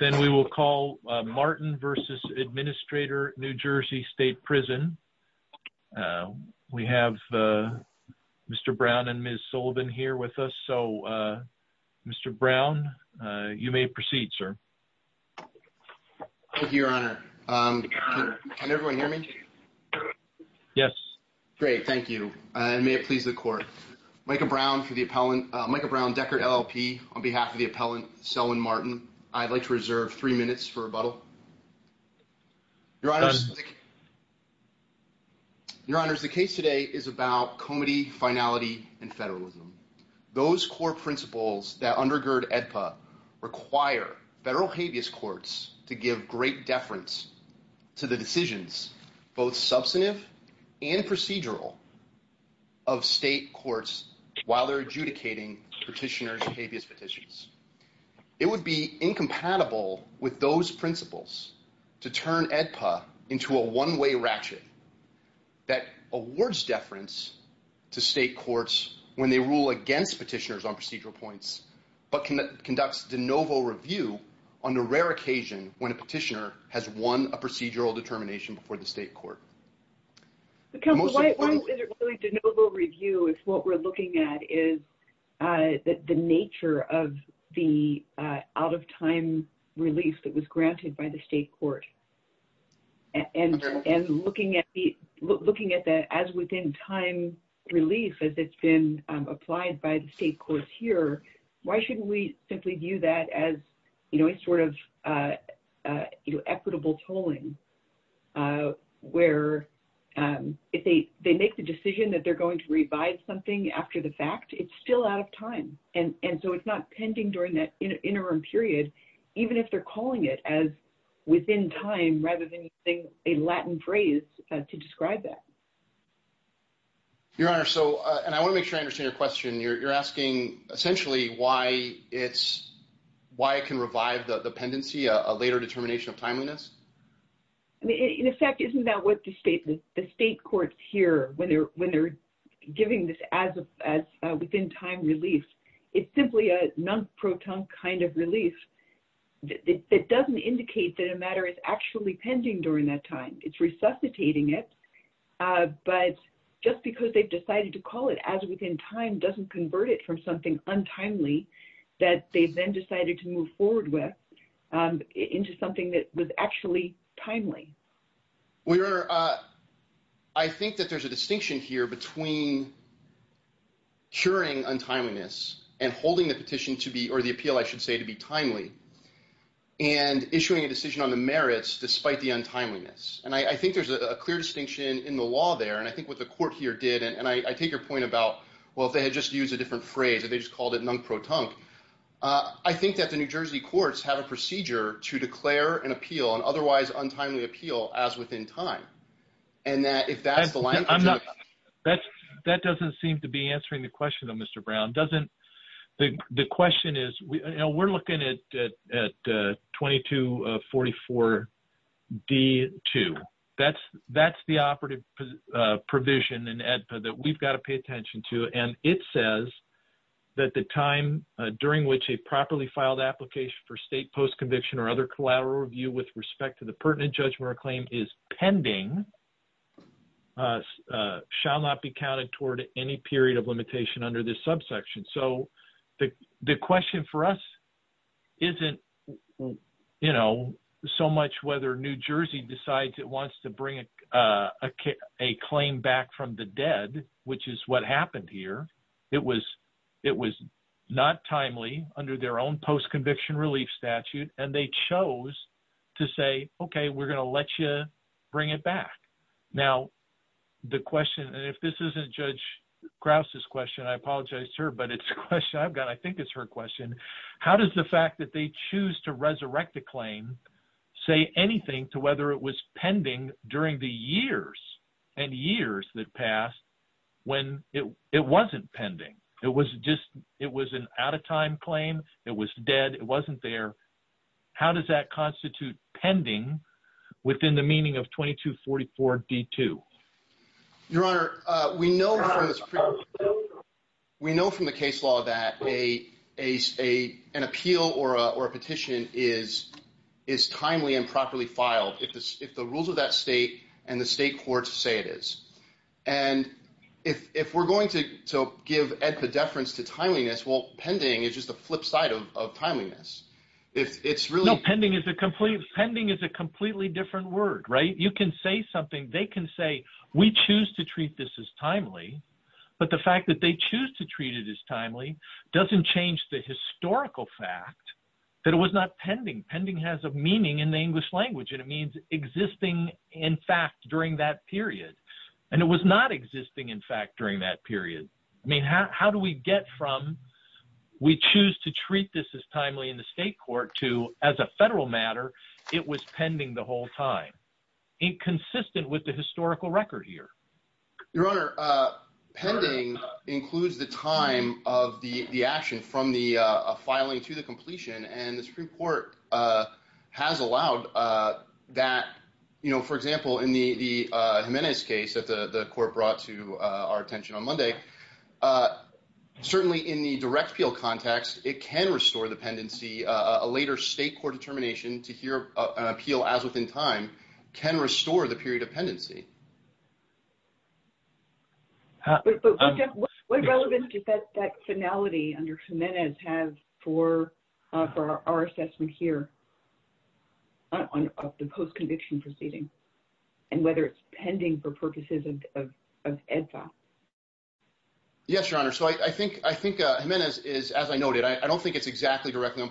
Then we will call Martin v. Administrator NJ State Prison. We have Mr. Brown and Ms. Sullivan here with us. So, Mr. Brown, you may proceed, sir. Thank you, your honor. Can everyone hear me? Yes. Great, thank you. And may it please the court. Micah Brown for the appellant. Micah Brown, Deckard LLP, on behalf of the appellant, Sullivan Martin. I'd like to reserve three minutes for rebuttal. Your honor, the case today is about comity, finality, and federalism. Those core principles that undergird AEDPA require federal habeas courts to give great deference to the decisions, both substantive and procedural, of state courts while they're adjudicating petitioners' habeas petitions. It would be incompatible with those principles to turn AEDPA into a one-way ratchet that awards deference to state courts when they rule against petitioners on procedural points, but conducts de novo review on a rare occasion when a petitioner has won a procedural determination before the state court. Because why is it really de novo review if what we're looking at is the nature of the out-of-time release that was granted by the state court? And looking at the as-within-time release as it's been applied by the state courts here, why shouldn't we simply view that as, you know, a sort of equitable tolling where if they make the decision that they're going to revise something after the fact, it's still out of time. And so it's not pending during that interim period, even if they're calling it as within time rather than using a Latin phrase to describe that. Your honor, so, and I want to make sure I understand your question. You're revising the pendency, a later determination of timeliness? In effect, isn't that what the state courts hear when they're giving this as-within-time release? It's simply a non-proton kind of release that doesn't indicate that a matter is actually pending during that time. It's resuscitating it, but just because they've decided to call it as-within-time doesn't convert it from something with, into something that was actually timely. Well, your honor, I think that there's a distinction here between curing untimeliness and holding the petition to be, or the appeal, I should say, to be timely and issuing a decision on the merits despite the untimeliness. And I think there's a clear distinction in the law there. And I think what the court here did, and I take your point about, well, if they had just used a different phrase, they just called it non-proton, I think that the New Jersey courts have a procedure to declare an appeal, an otherwise untimely appeal, as-within-time. And that if that's the language- I'm not, that doesn't seem to be answering the question though, Mr. Brown. Doesn't, the question is, we're looking at 2244D2. That's the operative provision in AEDPA that we've got to pay attention to. And it says that the time during which a properly filed application for state post-conviction or other collateral review with respect to the pertinent judgment or claim is pending shall not be counted toward any period of limitation under this subsection. So, the question for us isn't, you know, so much whether New Jersey decides it wants to bring a claim back from the dead, which is what happened here. It was not timely under their own post-conviction relief statute, and they chose to say, okay, we're going to let you bring it back. Now, the question, and if this isn't Judge Krause's question, I apologize to her, but it's a question I've got. I think it's her question. How does the fact that they choose to resurrect the claim say anything to whether it was pending during the years and years that passed when it wasn't pending? It was just, it was an out-of-time claim. It was dead. It wasn't there. How does that constitute pending within the meaning of 2244D2? Your Honor, we know from the case law that an appeal or a petition is timely and properly filed if the rules of that state and the state courts say it is. And if we're going to give epidefference to timeliness, well, pending is just the flip side of timeliness. If it's really... No, pending is a completely different word, right? You can say something, they can say, we choose to treat this as timely, but the fact that they choose to treat it as timely doesn't change the historical fact that it was not pending. Pending has a meaning in the English language, and it means existing in fact during that period. And it was not existing in fact during that period. I mean, how do we get from we choose to treat this as timely in the historical record here? Your Honor, pending includes the time of the action from the filing to the completion. And the Supreme Court has allowed that. For example, in the Jimenez case that the court brought to our attention on Monday, certainly in the direct appeal context, it can restore the pendency. A later state court determination to hear an appeal as within time can restore the period of pendency. What relevance does that finality under Jimenez have for our assessment here of the post-conviction proceeding and whether it's pending for purposes of EDSA? Yes, Your Honor. So I think Jimenez is, as I noted, I don't think it's exactly directly on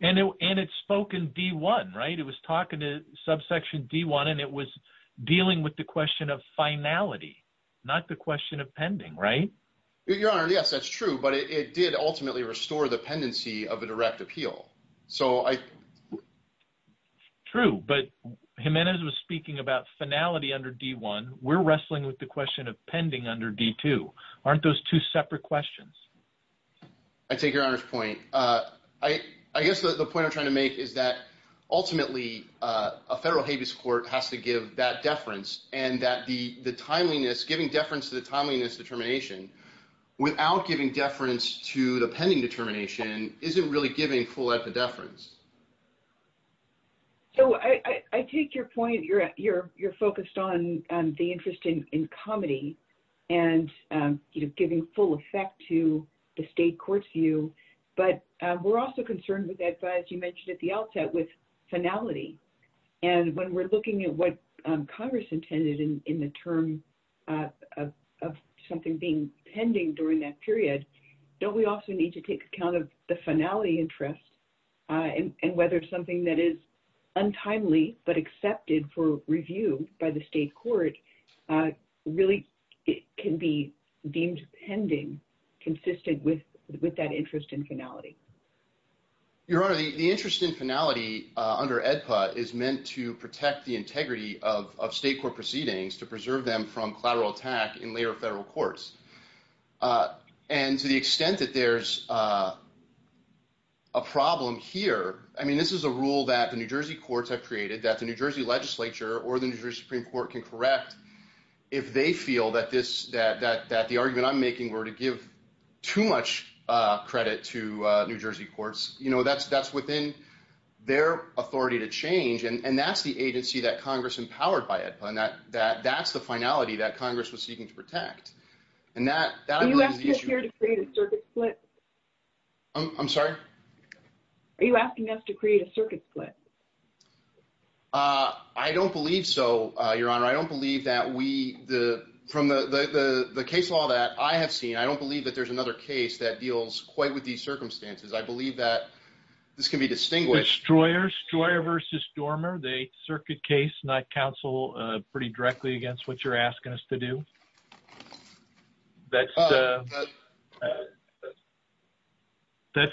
and it's spoken D1, right? It was talking to subsection D1 and it was dealing with the question of finality, not the question of pending, right? Your Honor, yes, that's true, but it did ultimately restore the pendency of a direct appeal. So I... True, but Jimenez was speaking about finality under D1. We're wrestling with the question of pending under D2. Aren't those two separate questions? I take Your Honor's point. I guess the point I'm trying to make is that ultimately a federal habeas court has to give that deference and that the timeliness, giving deference to the timeliness determination without giving deference to the pending determination isn't really giving full epidefference. So I take your point. You're focused on the interest in comedy and giving full effect to the state court's view, but we're also concerned with EDSA, as you mentioned at the outset, with finality. And when we're looking at what Congress intended in the term of something being pending during that period, don't we also need to take account of the finality interest and whether something that is untimely, but accepted for review by the state court really can be deemed pending, consistent with that interest in finality? Your Honor, the interest in finality under EDPA is meant to protect the integrity of state court proceedings to preserve them from collateral attack in later federal courts. And to the extent that there's a problem here, I mean, this is a rule that the New Jersey courts have created that the if they feel that the argument I'm making were to give too much credit to New Jersey courts, you know, that's within their authority to change. And that's the agency that Congress empowered by EDPA. And that's the finality that Congress was seeking to protect. Are you asking us here to create a circuit split? I'm sorry? Are you asking us to create a circuit split? I don't believe so, Your Honor. I don't believe that we, from the case law that I have seen, I don't believe that there's another case that deals quite with these circumstances. I believe that this can be distinguished. Destroyer versus Dormer, the circuit case, not counsel pretty directly against what you're asking us to do. That's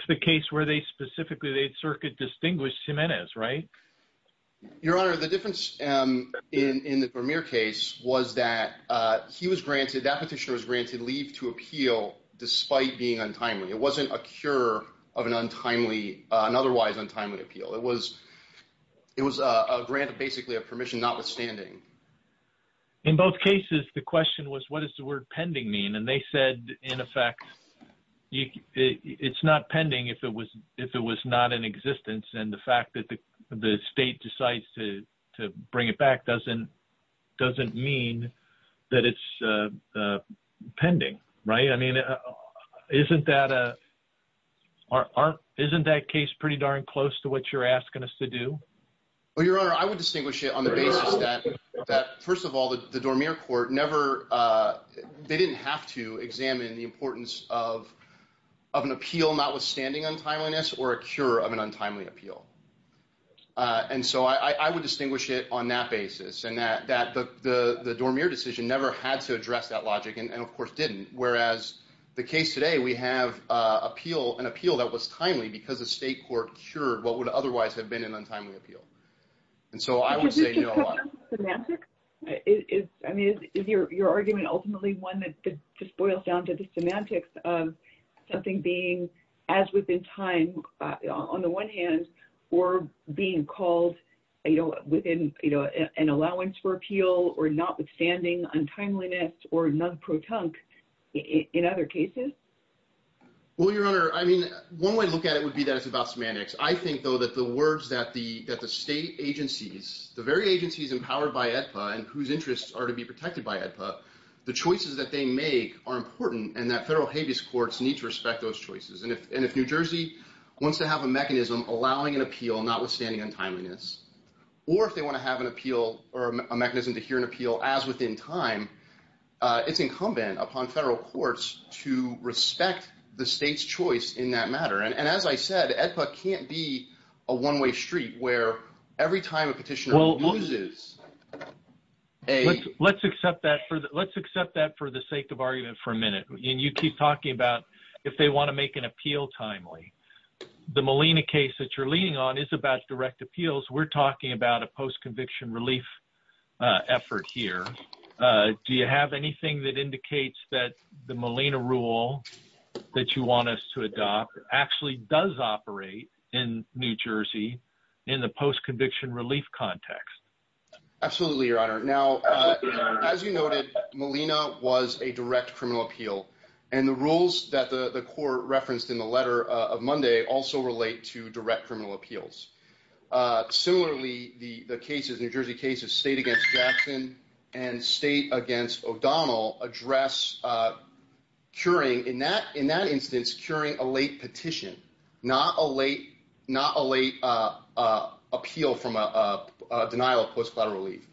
the case where they specifically, they'd circuit distinguish Jimenez, right? Your Honor, the difference in the Vermeer case was that he was granted, that petitioner was granted leave to appeal despite being untimely. It wasn't a cure of an otherwise untimely appeal. It was a grant of basically a permission notwithstanding. In both cases, the question was, what does the word pending mean? And they said, in effect, it's not pending if it was not in existence. And the fact that the state decides to bring it back doesn't mean that it's pending, right? I mean, isn't that case pretty darn close to what you're asking us to do? Well, Your Honor, I would distinguish it on the basis that, first of all, the Dormier court never, they didn't have to examine the importance of an appeal notwithstanding untimeliness or a cure of an untimely appeal. And so I would distinguish it on that basis and that the Dormier decision never had to address that logic and of course didn't. Whereas the case today, we have an appeal that was timely because the state court cured what would otherwise have been an untimely appeal. And so I would say no. Was this a question of semantics? I mean, is your argument ultimately one that just boils down to the semantics of something being as within time on the one hand or being called within an allowance for appeal or notwithstanding untimeliness or non-protunct in other cases? Well, Your Honor, I mean, one way to look at it would be that it's about semantics. I think, though, that the words that the state agencies, the very agencies empowered by AEDPA and whose interests are to be protected by AEDPA, the choices that they make are important and that federal habeas courts need to respect those choices. And if New Jersey wants to have a mechanism allowing an appeal notwithstanding untimeliness or if they want to have an appeal or a mechanism to hear an appeal as within time, it's incumbent upon federal courts to respect the state's choice in that a one-way street where every time a petitioner loses a... Let's accept that for the sake of argument for a minute. And you keep talking about if they want to make an appeal timely. The Molina case that you're leaning on is about direct appeals. We're talking about a post-conviction relief effort here. Do you have anything that indicates that the Molina rule that you want us to adopt actually does operate in New Jersey in the post-conviction relief context? Absolutely, Your Honor. Now, as you noted, Molina was a direct criminal appeal and the rules that the court referenced in the letter of Monday also relate to direct criminal appeals. Similarly, the cases, New Jersey cases, state against Jackson and state against O'Donnell address curing, in that instance, curing a late petition, not a late appeal from a denial of post-collateral relief.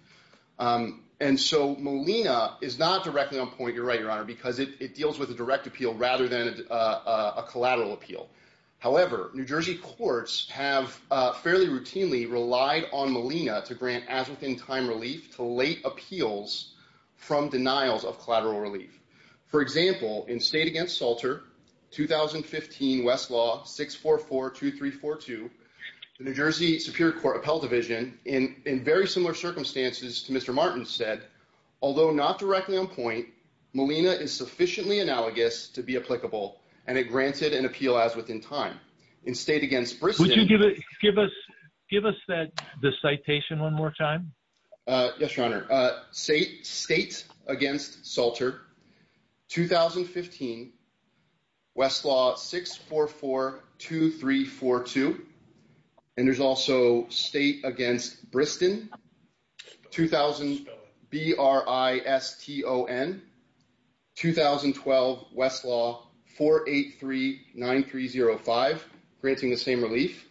And so Molina is not directly on point, you're right, Your Honor, because it deals with a direct appeal rather than a collateral appeal. However, New Jersey courts have fairly routinely relied on Molina to grant as-within-time relief to late appeals from denials of collateral relief. For example, in state against Salter, 2015 Westlaw 6442342, the New Jersey Superior Court Appellate Division, in very similar circumstances to Mr. Martin's, said, although not directly on point, Molina is sufficiently analogous to be applicable and it granted an appeal as-within-time. In state against- Would you give us the citation one more time? Yes, Your Honor. State against Salter, 2015 Westlaw 6442342, and there's also state against Briston, 2000-B-R-I-S-T-O-N, 2012 Westlaw 4839305, granting the same relief.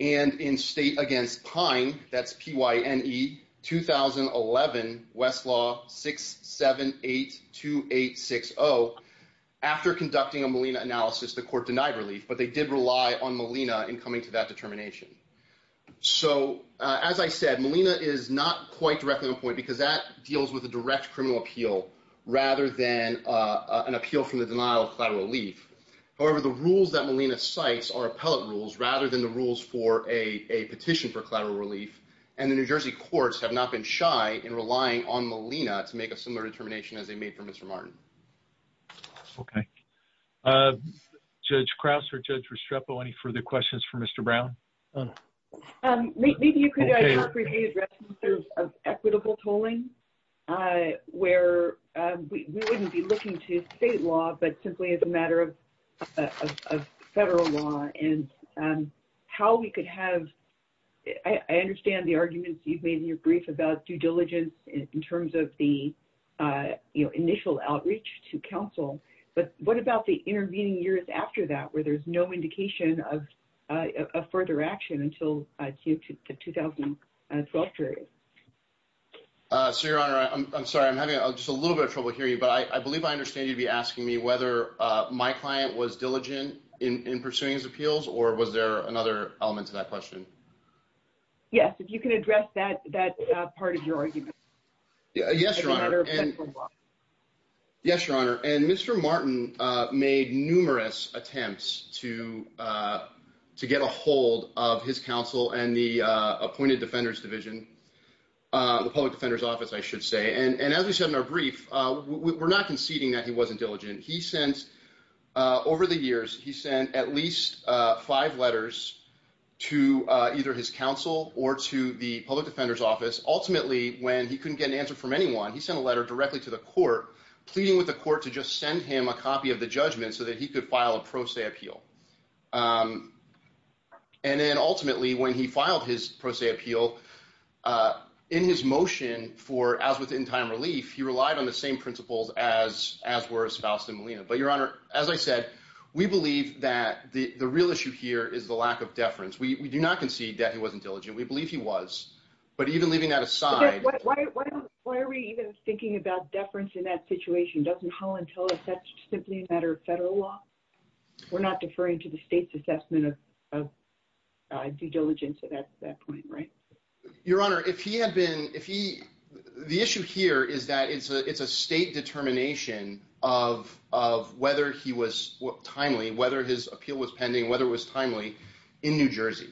And in state against Pine, that's P-Y-N-E, 2011 Westlaw 6782860, after conducting a Molina analysis, the court denied relief, but they did rely on Molina in coming to that determination. So as I said, Molina is not quite directly on point because that deals with a direct criminal appeal rather than an appeal from the denial of collateral relief. However, the rules that Molina cites are appellate rules rather than the rules for a petition for collateral relief, and the New Jersey courts have not been shy in relying on Molina to make a similar determination as they made for Mr. Martin. Okay. Judge Krause or Judge Restrepo, any further questions for Mr. Brown? Donna. Maybe you could address equitable tolling, where we wouldn't be looking to state law, but simply as a matter of federal law and how we could have, I understand the arguments you've made in your brief about due diligence in terms of the initial outreach to counsel, but what about the intervening years after that where there's no indication of further action until the 2012 period? So, Your Honor, I'm sorry. I'm having just a little bit of trouble hearing you, but I believe I understand you'd be asking me whether my client was diligent in pursuing his appeals or was there another element to that question? Yes, if you can address that part of your argument. Yes, Your Honor. And Mr. Martin made numerous attempts to get a hold of his counsel and the appointed defenders division, the public defender's office, I should say. And as we said in our brief, we're not conceding that he wasn't diligent. He sent, over the years, he sent at least five letters to either his counsel or to the public defender's office. Ultimately, when he couldn't get an answer from anyone, he sent a letter directly to the court pleading with the court to just send him a copy of the judgment so that he could file a pro se appeal. And then ultimately, when he filed his pro se appeal in his motion for as within time relief, he relied on the principles as were espoused in Molina. But Your Honor, as I said, we believe that the real issue here is the lack of deference. We do not concede that he wasn't diligent. We believe he was. But even leaving that aside... Why are we even thinking about deference in that situation? Doesn't Holland tell us that's simply a matter of federal law? We're not deferring to the state's assessment of due diligence at that point, right? Your Honor, if he had been... The issue here is that it's a state determination of whether he was timely, whether his appeal was pending, whether it was timely in New Jersey.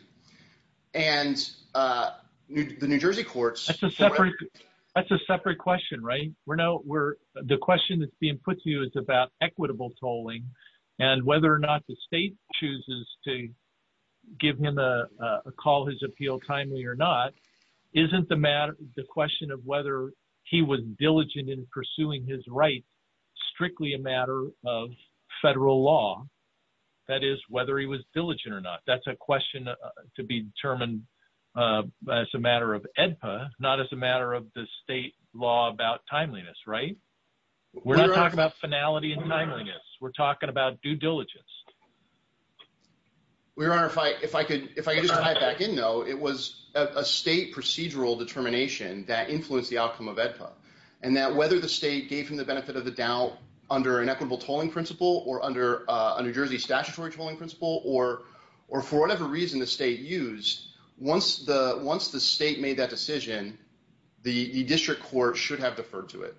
And the New Jersey courts... That's a separate question, right? The question that's being put to you is about equitable tolling and whether or not the state chooses to give him a call his appeal timely or not, isn't the question of whether he was diligent in pursuing his rights strictly a matter of federal law? That is, whether he was diligent or not. That's a question to be determined as a matter of AEDPA, not as a matter of the state law about timeliness, right? We're not talking about finality and timeliness. We're talking about due diligence. Your Honor, if I could just dive back in though, it was a state procedural determination that influenced the outcome of AEDPA and that whether the state gave him the benefit of the doubt under an equitable tolling principle or under a New Jersey statutory tolling principle or for whatever reason the state used, once the state made that decision, the district court should have deferred to it.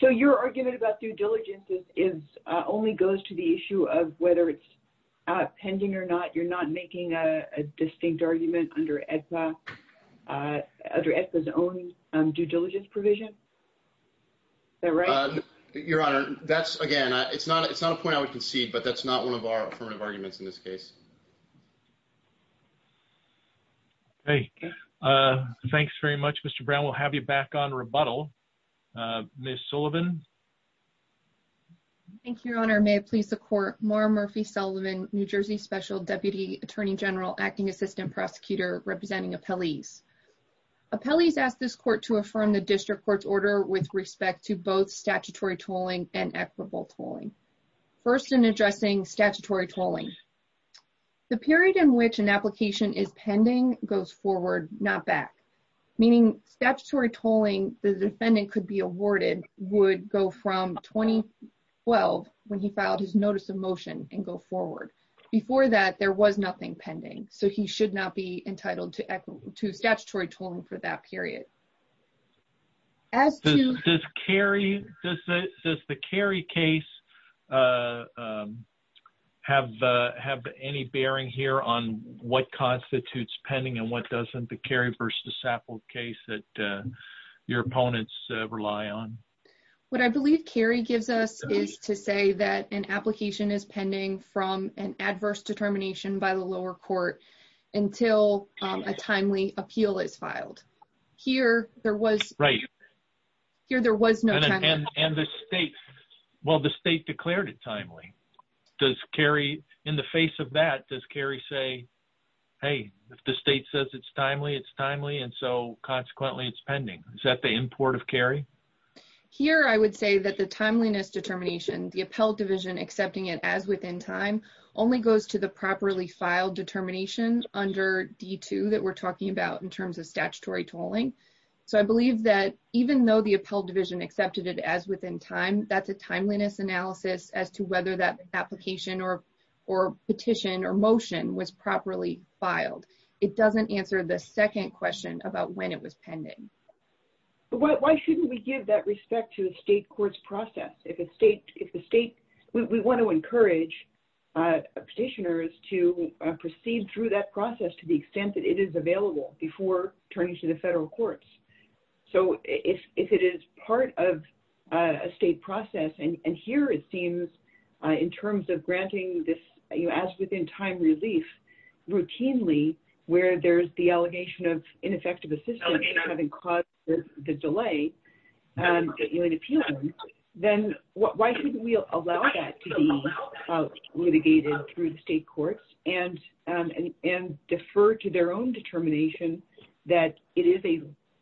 So your argument about due diligence only goes to issue of whether it's pending or not, you're not making a distinct argument under AEDPA's own due diligence provision? Is that right? Your Honor, that's again, it's not a point I would concede, but that's not one of our affirmative arguments in this case. Great. Thanks very much, Mr. Brown. We'll have you back on rebuttal. Ms. Sullivan. Thank you, Your Honor. May it please the court, Maura Murphy-Sullivan, New Jersey Special Deputy Attorney General, Acting Assistant Prosecutor, representing appellees. Appellees ask this court to affirm the district court's order with respect to both statutory tolling and equitable tolling. First, in addressing statutory tolling, the period in which an application is pending goes forward, not back. Meaning statutory tolling, the defendant could be awarded, would go from 2012 when he filed his notice of motion and go forward. Before that, there was nothing pending, so he should not be entitled to statutory tolling for that period. Does the Cary case have any bearing here on what constitutes pending and doesn't the Cary v. Sapple case that your opponents rely on? What I believe Cary gives us is to say that an application is pending from an adverse determination by the lower court until a timely appeal is filed. Here, there was no time. And the state declared it timely. Does Cary, in the face of that, does Cary say, hey, if the state says it's timely, it's timely, and so consequently it's pending? Is that the import of Cary? Here, I would say that the timeliness determination, the appellate division accepting it as within time, only goes to the properly filed determination under D2 that we're talking about in terms of statutory tolling. So I believe that even though the appellate division accepted it as within time, that's a application or petition or motion was properly filed. It doesn't answer the second question about when it was pending. Why shouldn't we give that respect to the state court's process? We want to encourage petitioners to proceed through that process to the extent that it is available before turning to the federal courts. So if it is part of a state process, and here it seems in terms of granting this as within time relief routinely where there's the allegation of ineffective assistance having caused the delay, then why shouldn't we allow that to be litigated through the state courts and defer to their own determination that it is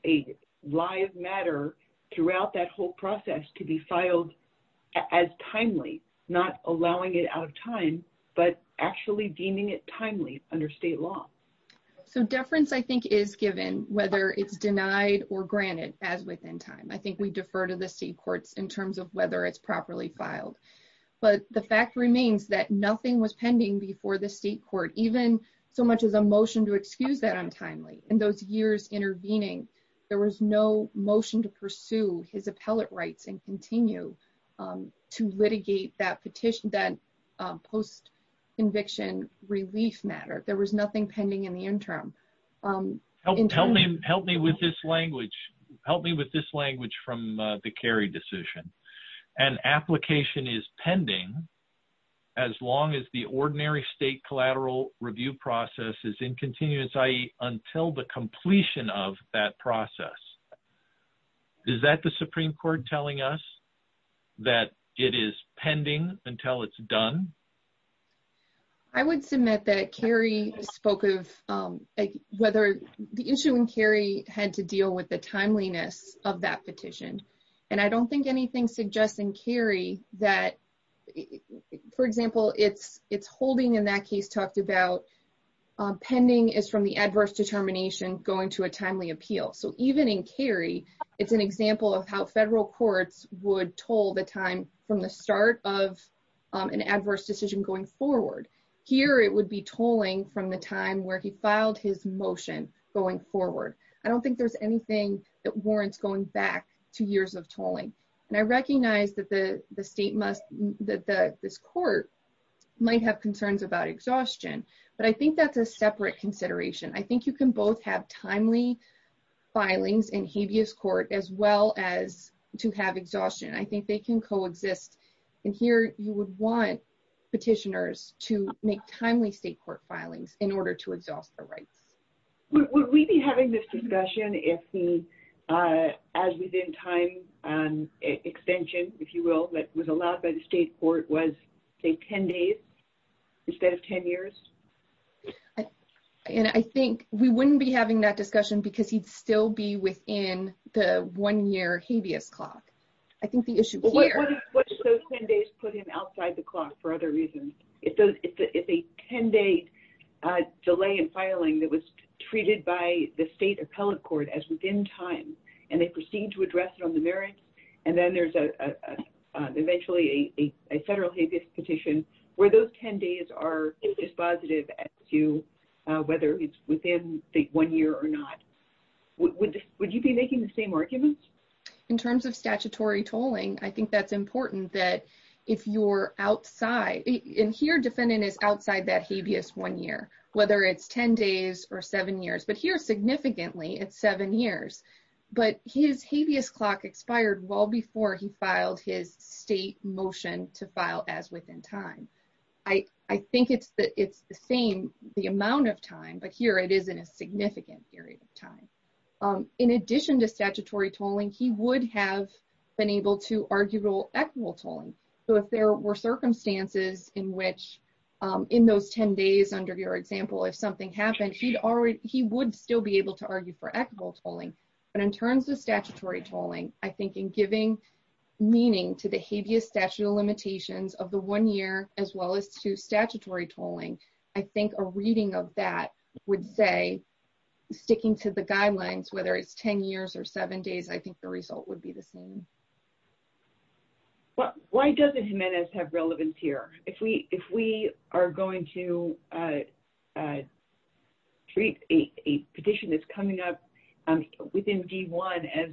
a live matter throughout that whole process to be filed as timely, not allowing it out of time, but actually deeming it timely under state law? So deference, I think, is given whether it's denied or granted as within time. I think we defer to the state courts in terms of whether it's properly filed. But the fact remains that nothing was pending before the state court, even so much as a motion to excuse that untimely. In those years intervening, there was no motion to pursue his appellate rights and continue to litigate that petition, that post-conviction relief matter. There was nothing pending in the interim. Help me with this language from the Kerry decision. An application is pending as long as the ordinary state collateral review process is in continuance, i.e., until the completion of that process. Is that the Supreme Court telling us that it is pending until it's done? I would submit that Kerry spoke of whether the issue in Kerry had to deal with the timeliness of that petition. And I don't think anything suggests in Kerry that, for example, its holding in that case talked about pending is from the adverse determination going to a timely appeal. So, even in Kerry, it's an example of how federal courts would toll the time from the start of an adverse decision going forward. Here, it would be tolling from the time where he filed his motion going forward. I don't think there's anything that warrants going back two years of tolling. And I recognize that the state must—that this court might have concerns about exhaustion. But I think that's a separate consideration. I think you can both have timely filings in habeas court as well as to have exhaustion. I think they can coexist. And here, you would want petitioners to make timely state court filings in order to exhaust their rights. Would we be having this discussion if the as-within-time extension, if you will, that was allowed by the state court was, say, 10 days instead of 10 years? And I think we wouldn't be having that discussion because he'd still be within the one-year habeas clock. I think the issue here— What if those 10 days put him outside the clock for other reasons? If a 10-day delay in filing that was treated by the state appellate court as within time, and they proceed to address it on the merits, and then there's eventually a federal habeas petition where those 10 days are dispositive as to whether it's within the one year or not, would you be making the same arguments? In terms of statutory tolling, I think that's important that if you're outside—and here, defendant is outside that habeas one year, whether it's 10 days or seven years. But here, significantly, it's seven years. But his habeas clock expired well before he filed his state motion to file as-within-time. I think it's the same, the amount of time, but here it is in a significant period of time. In addition to statutory tolling, he would have been able to in those 10 days under your example, if something happened, he would still be able to argue for equitable tolling. But in terms of statutory tolling, I think in giving meaning to the habeas statute of limitations of the one year as well as to statutory tolling, I think a reading of that would say, sticking to the guidelines, whether it's 10 years or seven days, I think the result would be the same. Why doesn't Jimenez have relevance here? If we are going to treat a petition that's coming up within D-1 as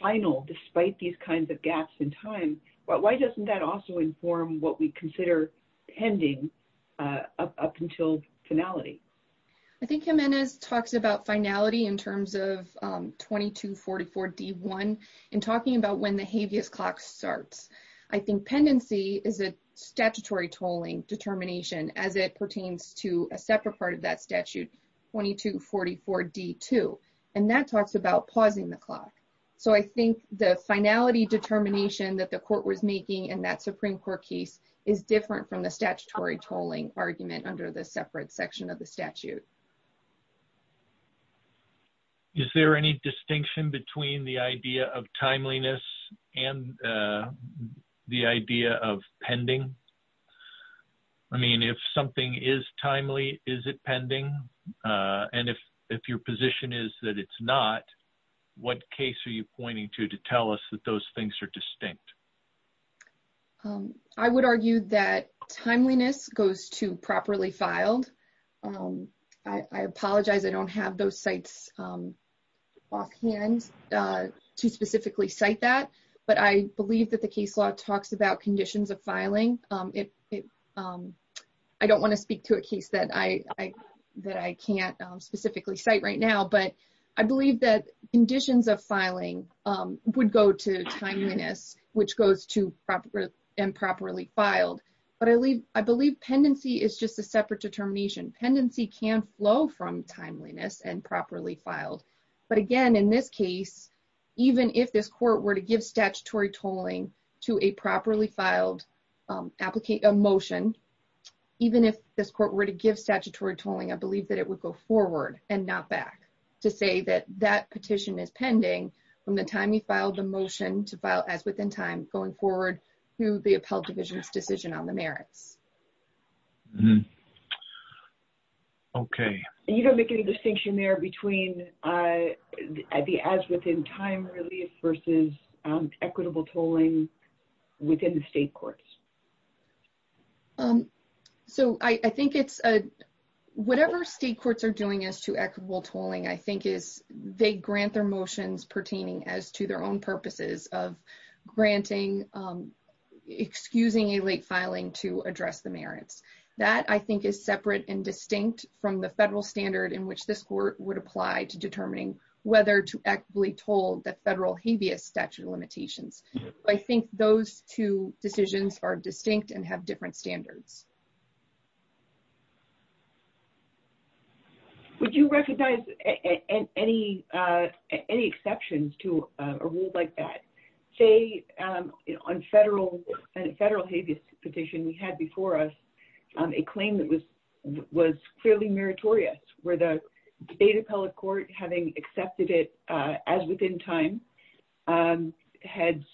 final, despite these kinds of gaps in time, why doesn't that also inform what we consider pending up until finality? I think Jimenez talks about in talking about when the habeas clock starts. I think pendency is a statutory tolling determination as it pertains to a separate part of that statute, 2244 D-2, and that talks about pausing the clock. So I think the finality determination that the court was making in that Supreme Court case is different from the statutory tolling argument under the separate section of the statute. Is there any distinction between the idea of timeliness and the idea of pending? I mean, if something is timely, is it pending? And if your position is that it's not, what case are you pointing to to tell us that those things are distinct? I would argue that timeliness goes to properly filed. I apologize, I don't have those sites offhand to specifically cite that, but I believe that the case law talks about conditions of filing. I don't want to speak to a case that I can't specifically cite right now, but I believe that conditions of filing would go to timeliness, which goes to improperly filed. But I believe pendency is just a separate determination. Pendency can flow from timeliness and properly filed. But again, in this case, even if this court were to give statutory tolling to a properly filed motion, even if this court were to give statutory tolling, I believe that it would go forward and not back to say that that petition is pending from the time you filed the motion to file as within time going forward through the appellate division's decision on the merits. Okay. You don't make any distinction there between the as within time relief versus equitable tolling within the state courts? Um, so I think it's a whatever state courts are doing as to equitable tolling, I think is they grant their motions pertaining as to their own purposes of granting, excusing a late filing to address the merits. That I think is separate and distinct from the federal standard in which this court would apply to determining whether to actually told the federal habeas statute limitations. I think those two decisions are distinct and have different standards. Would you recognize any exceptions to a rule like that? Say, on federal habeas petition, we had before us a claim that was clearly meritorious where the appellate court having accepted it as within time had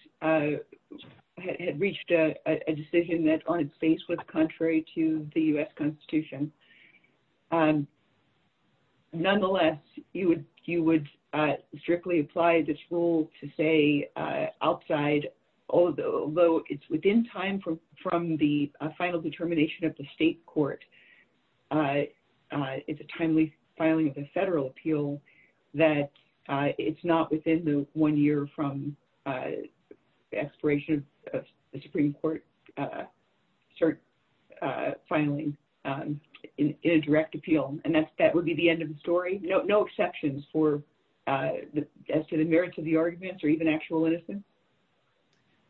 reached a decision that on its face was contrary to the U.S. Constitution. Nonetheless, you would strictly apply this rule to say outside, although it's within time from the final determination of the state court, uh, it's a timely filing of the federal appeal, that it's not within the one year from expiration of the Supreme Court, uh, cert, uh, filing, um, in a direct appeal. And that's, that would be the end of the story. No, no exceptions for, uh, as to the merits of the arguments or even actual innocence?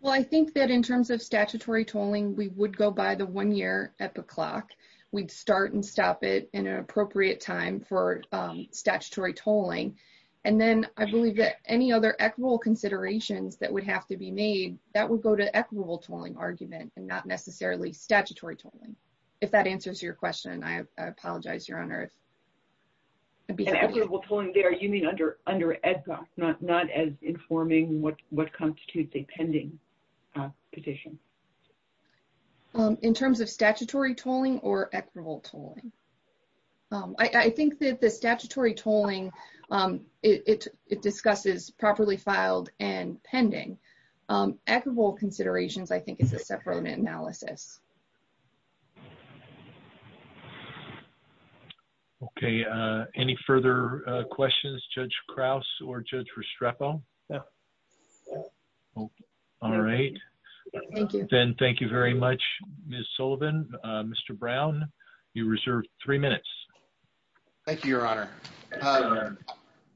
Well, I think that in terms of statutory tolling, we would go by the one year epoch clock. We'd start and stop it in an appropriate time for, um, statutory tolling. And then I believe that any other equitable considerations that would have to be made, that would go to equitable tolling argument and not necessarily statutory tolling. If that answers your question, I apologize, Your Honor. And equitable tolling there, you mean under, under EDGAR, not, not as informing what, what constitutes a pending petition? Um, in terms of statutory tolling or equitable tolling? Um, I, I think that the statutory tolling, um, it, it, it discusses properly filed and pending, um, equitable considerations, I think it's a separate analysis. Okay. Uh, any further, uh, questions, Judge Krause or Judge Restrepo? All right. Then thank you very much, Ms. Sullivan. Uh, Mr. Brown, you reserved three minutes. Thank you, Your Honor.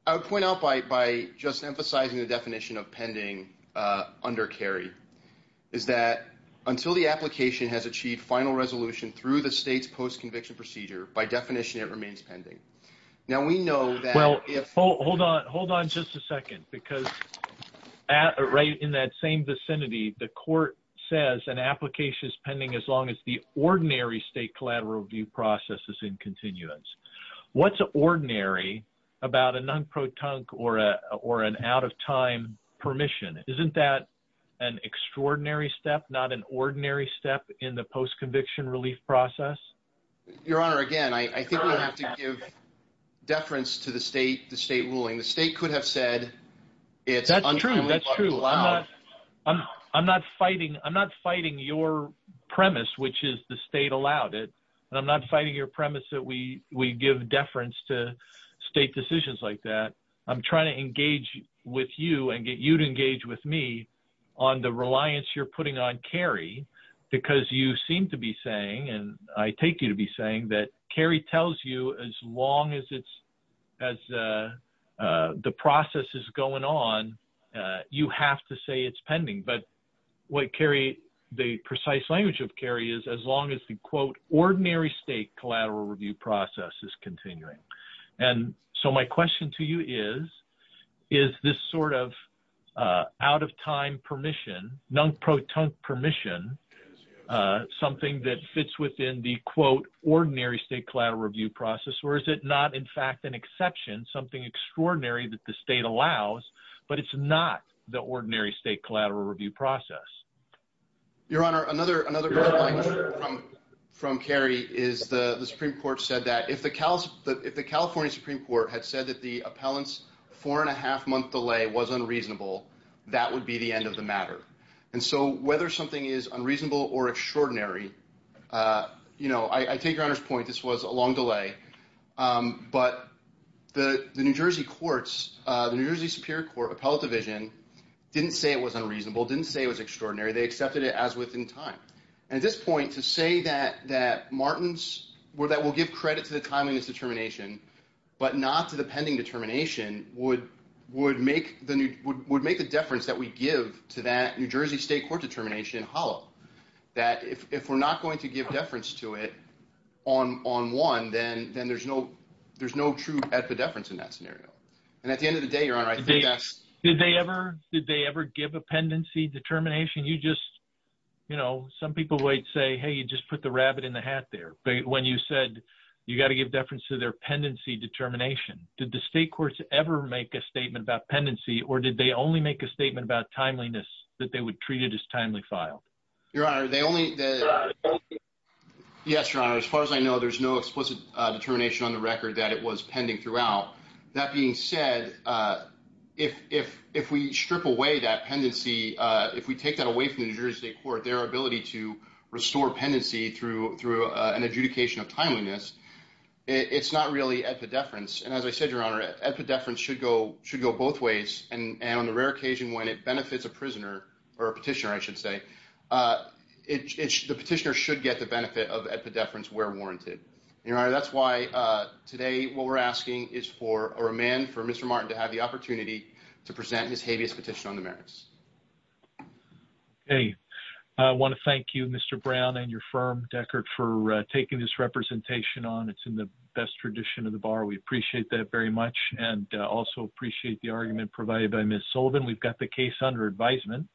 I would point out by, by just emphasizing the definition of pending, uh, under carry is that until the application has achieved final resolution through the state's post-conviction procedure, by definition, it remains pending. Now we know that if... Well, hold on, hold on just a second because at, right in that same vicinity, the court says an application is pending as long as the ordinary state collateral review process is in continuance. What's ordinary about a non-pro-tunk or a, or an out of time permission? Isn't that an extraordinary step, not an ordinary step in the post-conviction relief process? Your Honor, again, I, I think we would have to give deference to the state, the state ruling. The state could have said it's... That's true. That's true. I'm not, I'm, I'm not fighting, I'm not fighting your premise, which is the state allowed it, and I'm not fighting your premise that we, we give deference to state decisions like that. I'm trying to engage with you and get you to engage with me on the reliance you're putting on Kerry because you seem to be saying, and I take you to be saying that Kerry tells you as long as it's, as the process is going on, you have to say it's pending. But what Kerry, the precise language of Kerry is, as long as the quote, ordinary state collateral review process is permission, something that fits within the quote, ordinary state collateral review process, or is it not in fact an exception, something extraordinary that the state allows, but it's not the ordinary state collateral review process? Your Honor, another, another from Kerry is the, the Supreme Court said that if the, if the California Supreme Court had said that the appellant's four and a half month delay was unreasonable, that would be the end of the case. So whether something is unreasonable or extraordinary, you know, I take your Honor's point, this was a long delay, but the, the New Jersey courts, the New Jersey Superior Court Appellate Division didn't say it was unreasonable, didn't say it was extraordinary, they accepted it as within time. And at this point, to say that, that Martin's, that will give credit to the timeliness determination, but not to the pending determination would, would make the, would make the deference that we give to that New Jersey state court determination hollow. That if, if we're not going to give deference to it on, on one, then, then there's no, there's no true epideference in that scenario. And at the end of the day, Your Honor, I think that's... Did they ever, did they ever give a pendency determination? You just, you know, some people would say, hey, you just put the rabbit in the hat there. But when you said you got to give deference to their pendency determination, did the state courts ever make a statement about pendency, or did they only make a statement about timeliness that they would treat it as timely file? Your Honor, they only... Yes, Your Honor. As far as I know, there's no explicit determination on the record that it was pending throughout. That being said, if, if, if we strip away that pendency, if we take that away from the New Jersey state court, their ability to restore pendency through, through an adjudication of timeliness, it's not really epideference. And on the rare occasion when it benefits a prisoner, or a petitioner, I should say, the petitioner should get the benefit of epideference where warranted. Your Honor, that's why today what we're asking is for a remand for Mr. Martin to have the opportunity to present his habeas petition on the merits. Okay. I want to thank you, Mr. Brown and your firm, Deckard, for taking this representation on. It's in the best tradition of the bar. We also appreciate the argument provided by Ms. Sullivan. We've got the case under advisement.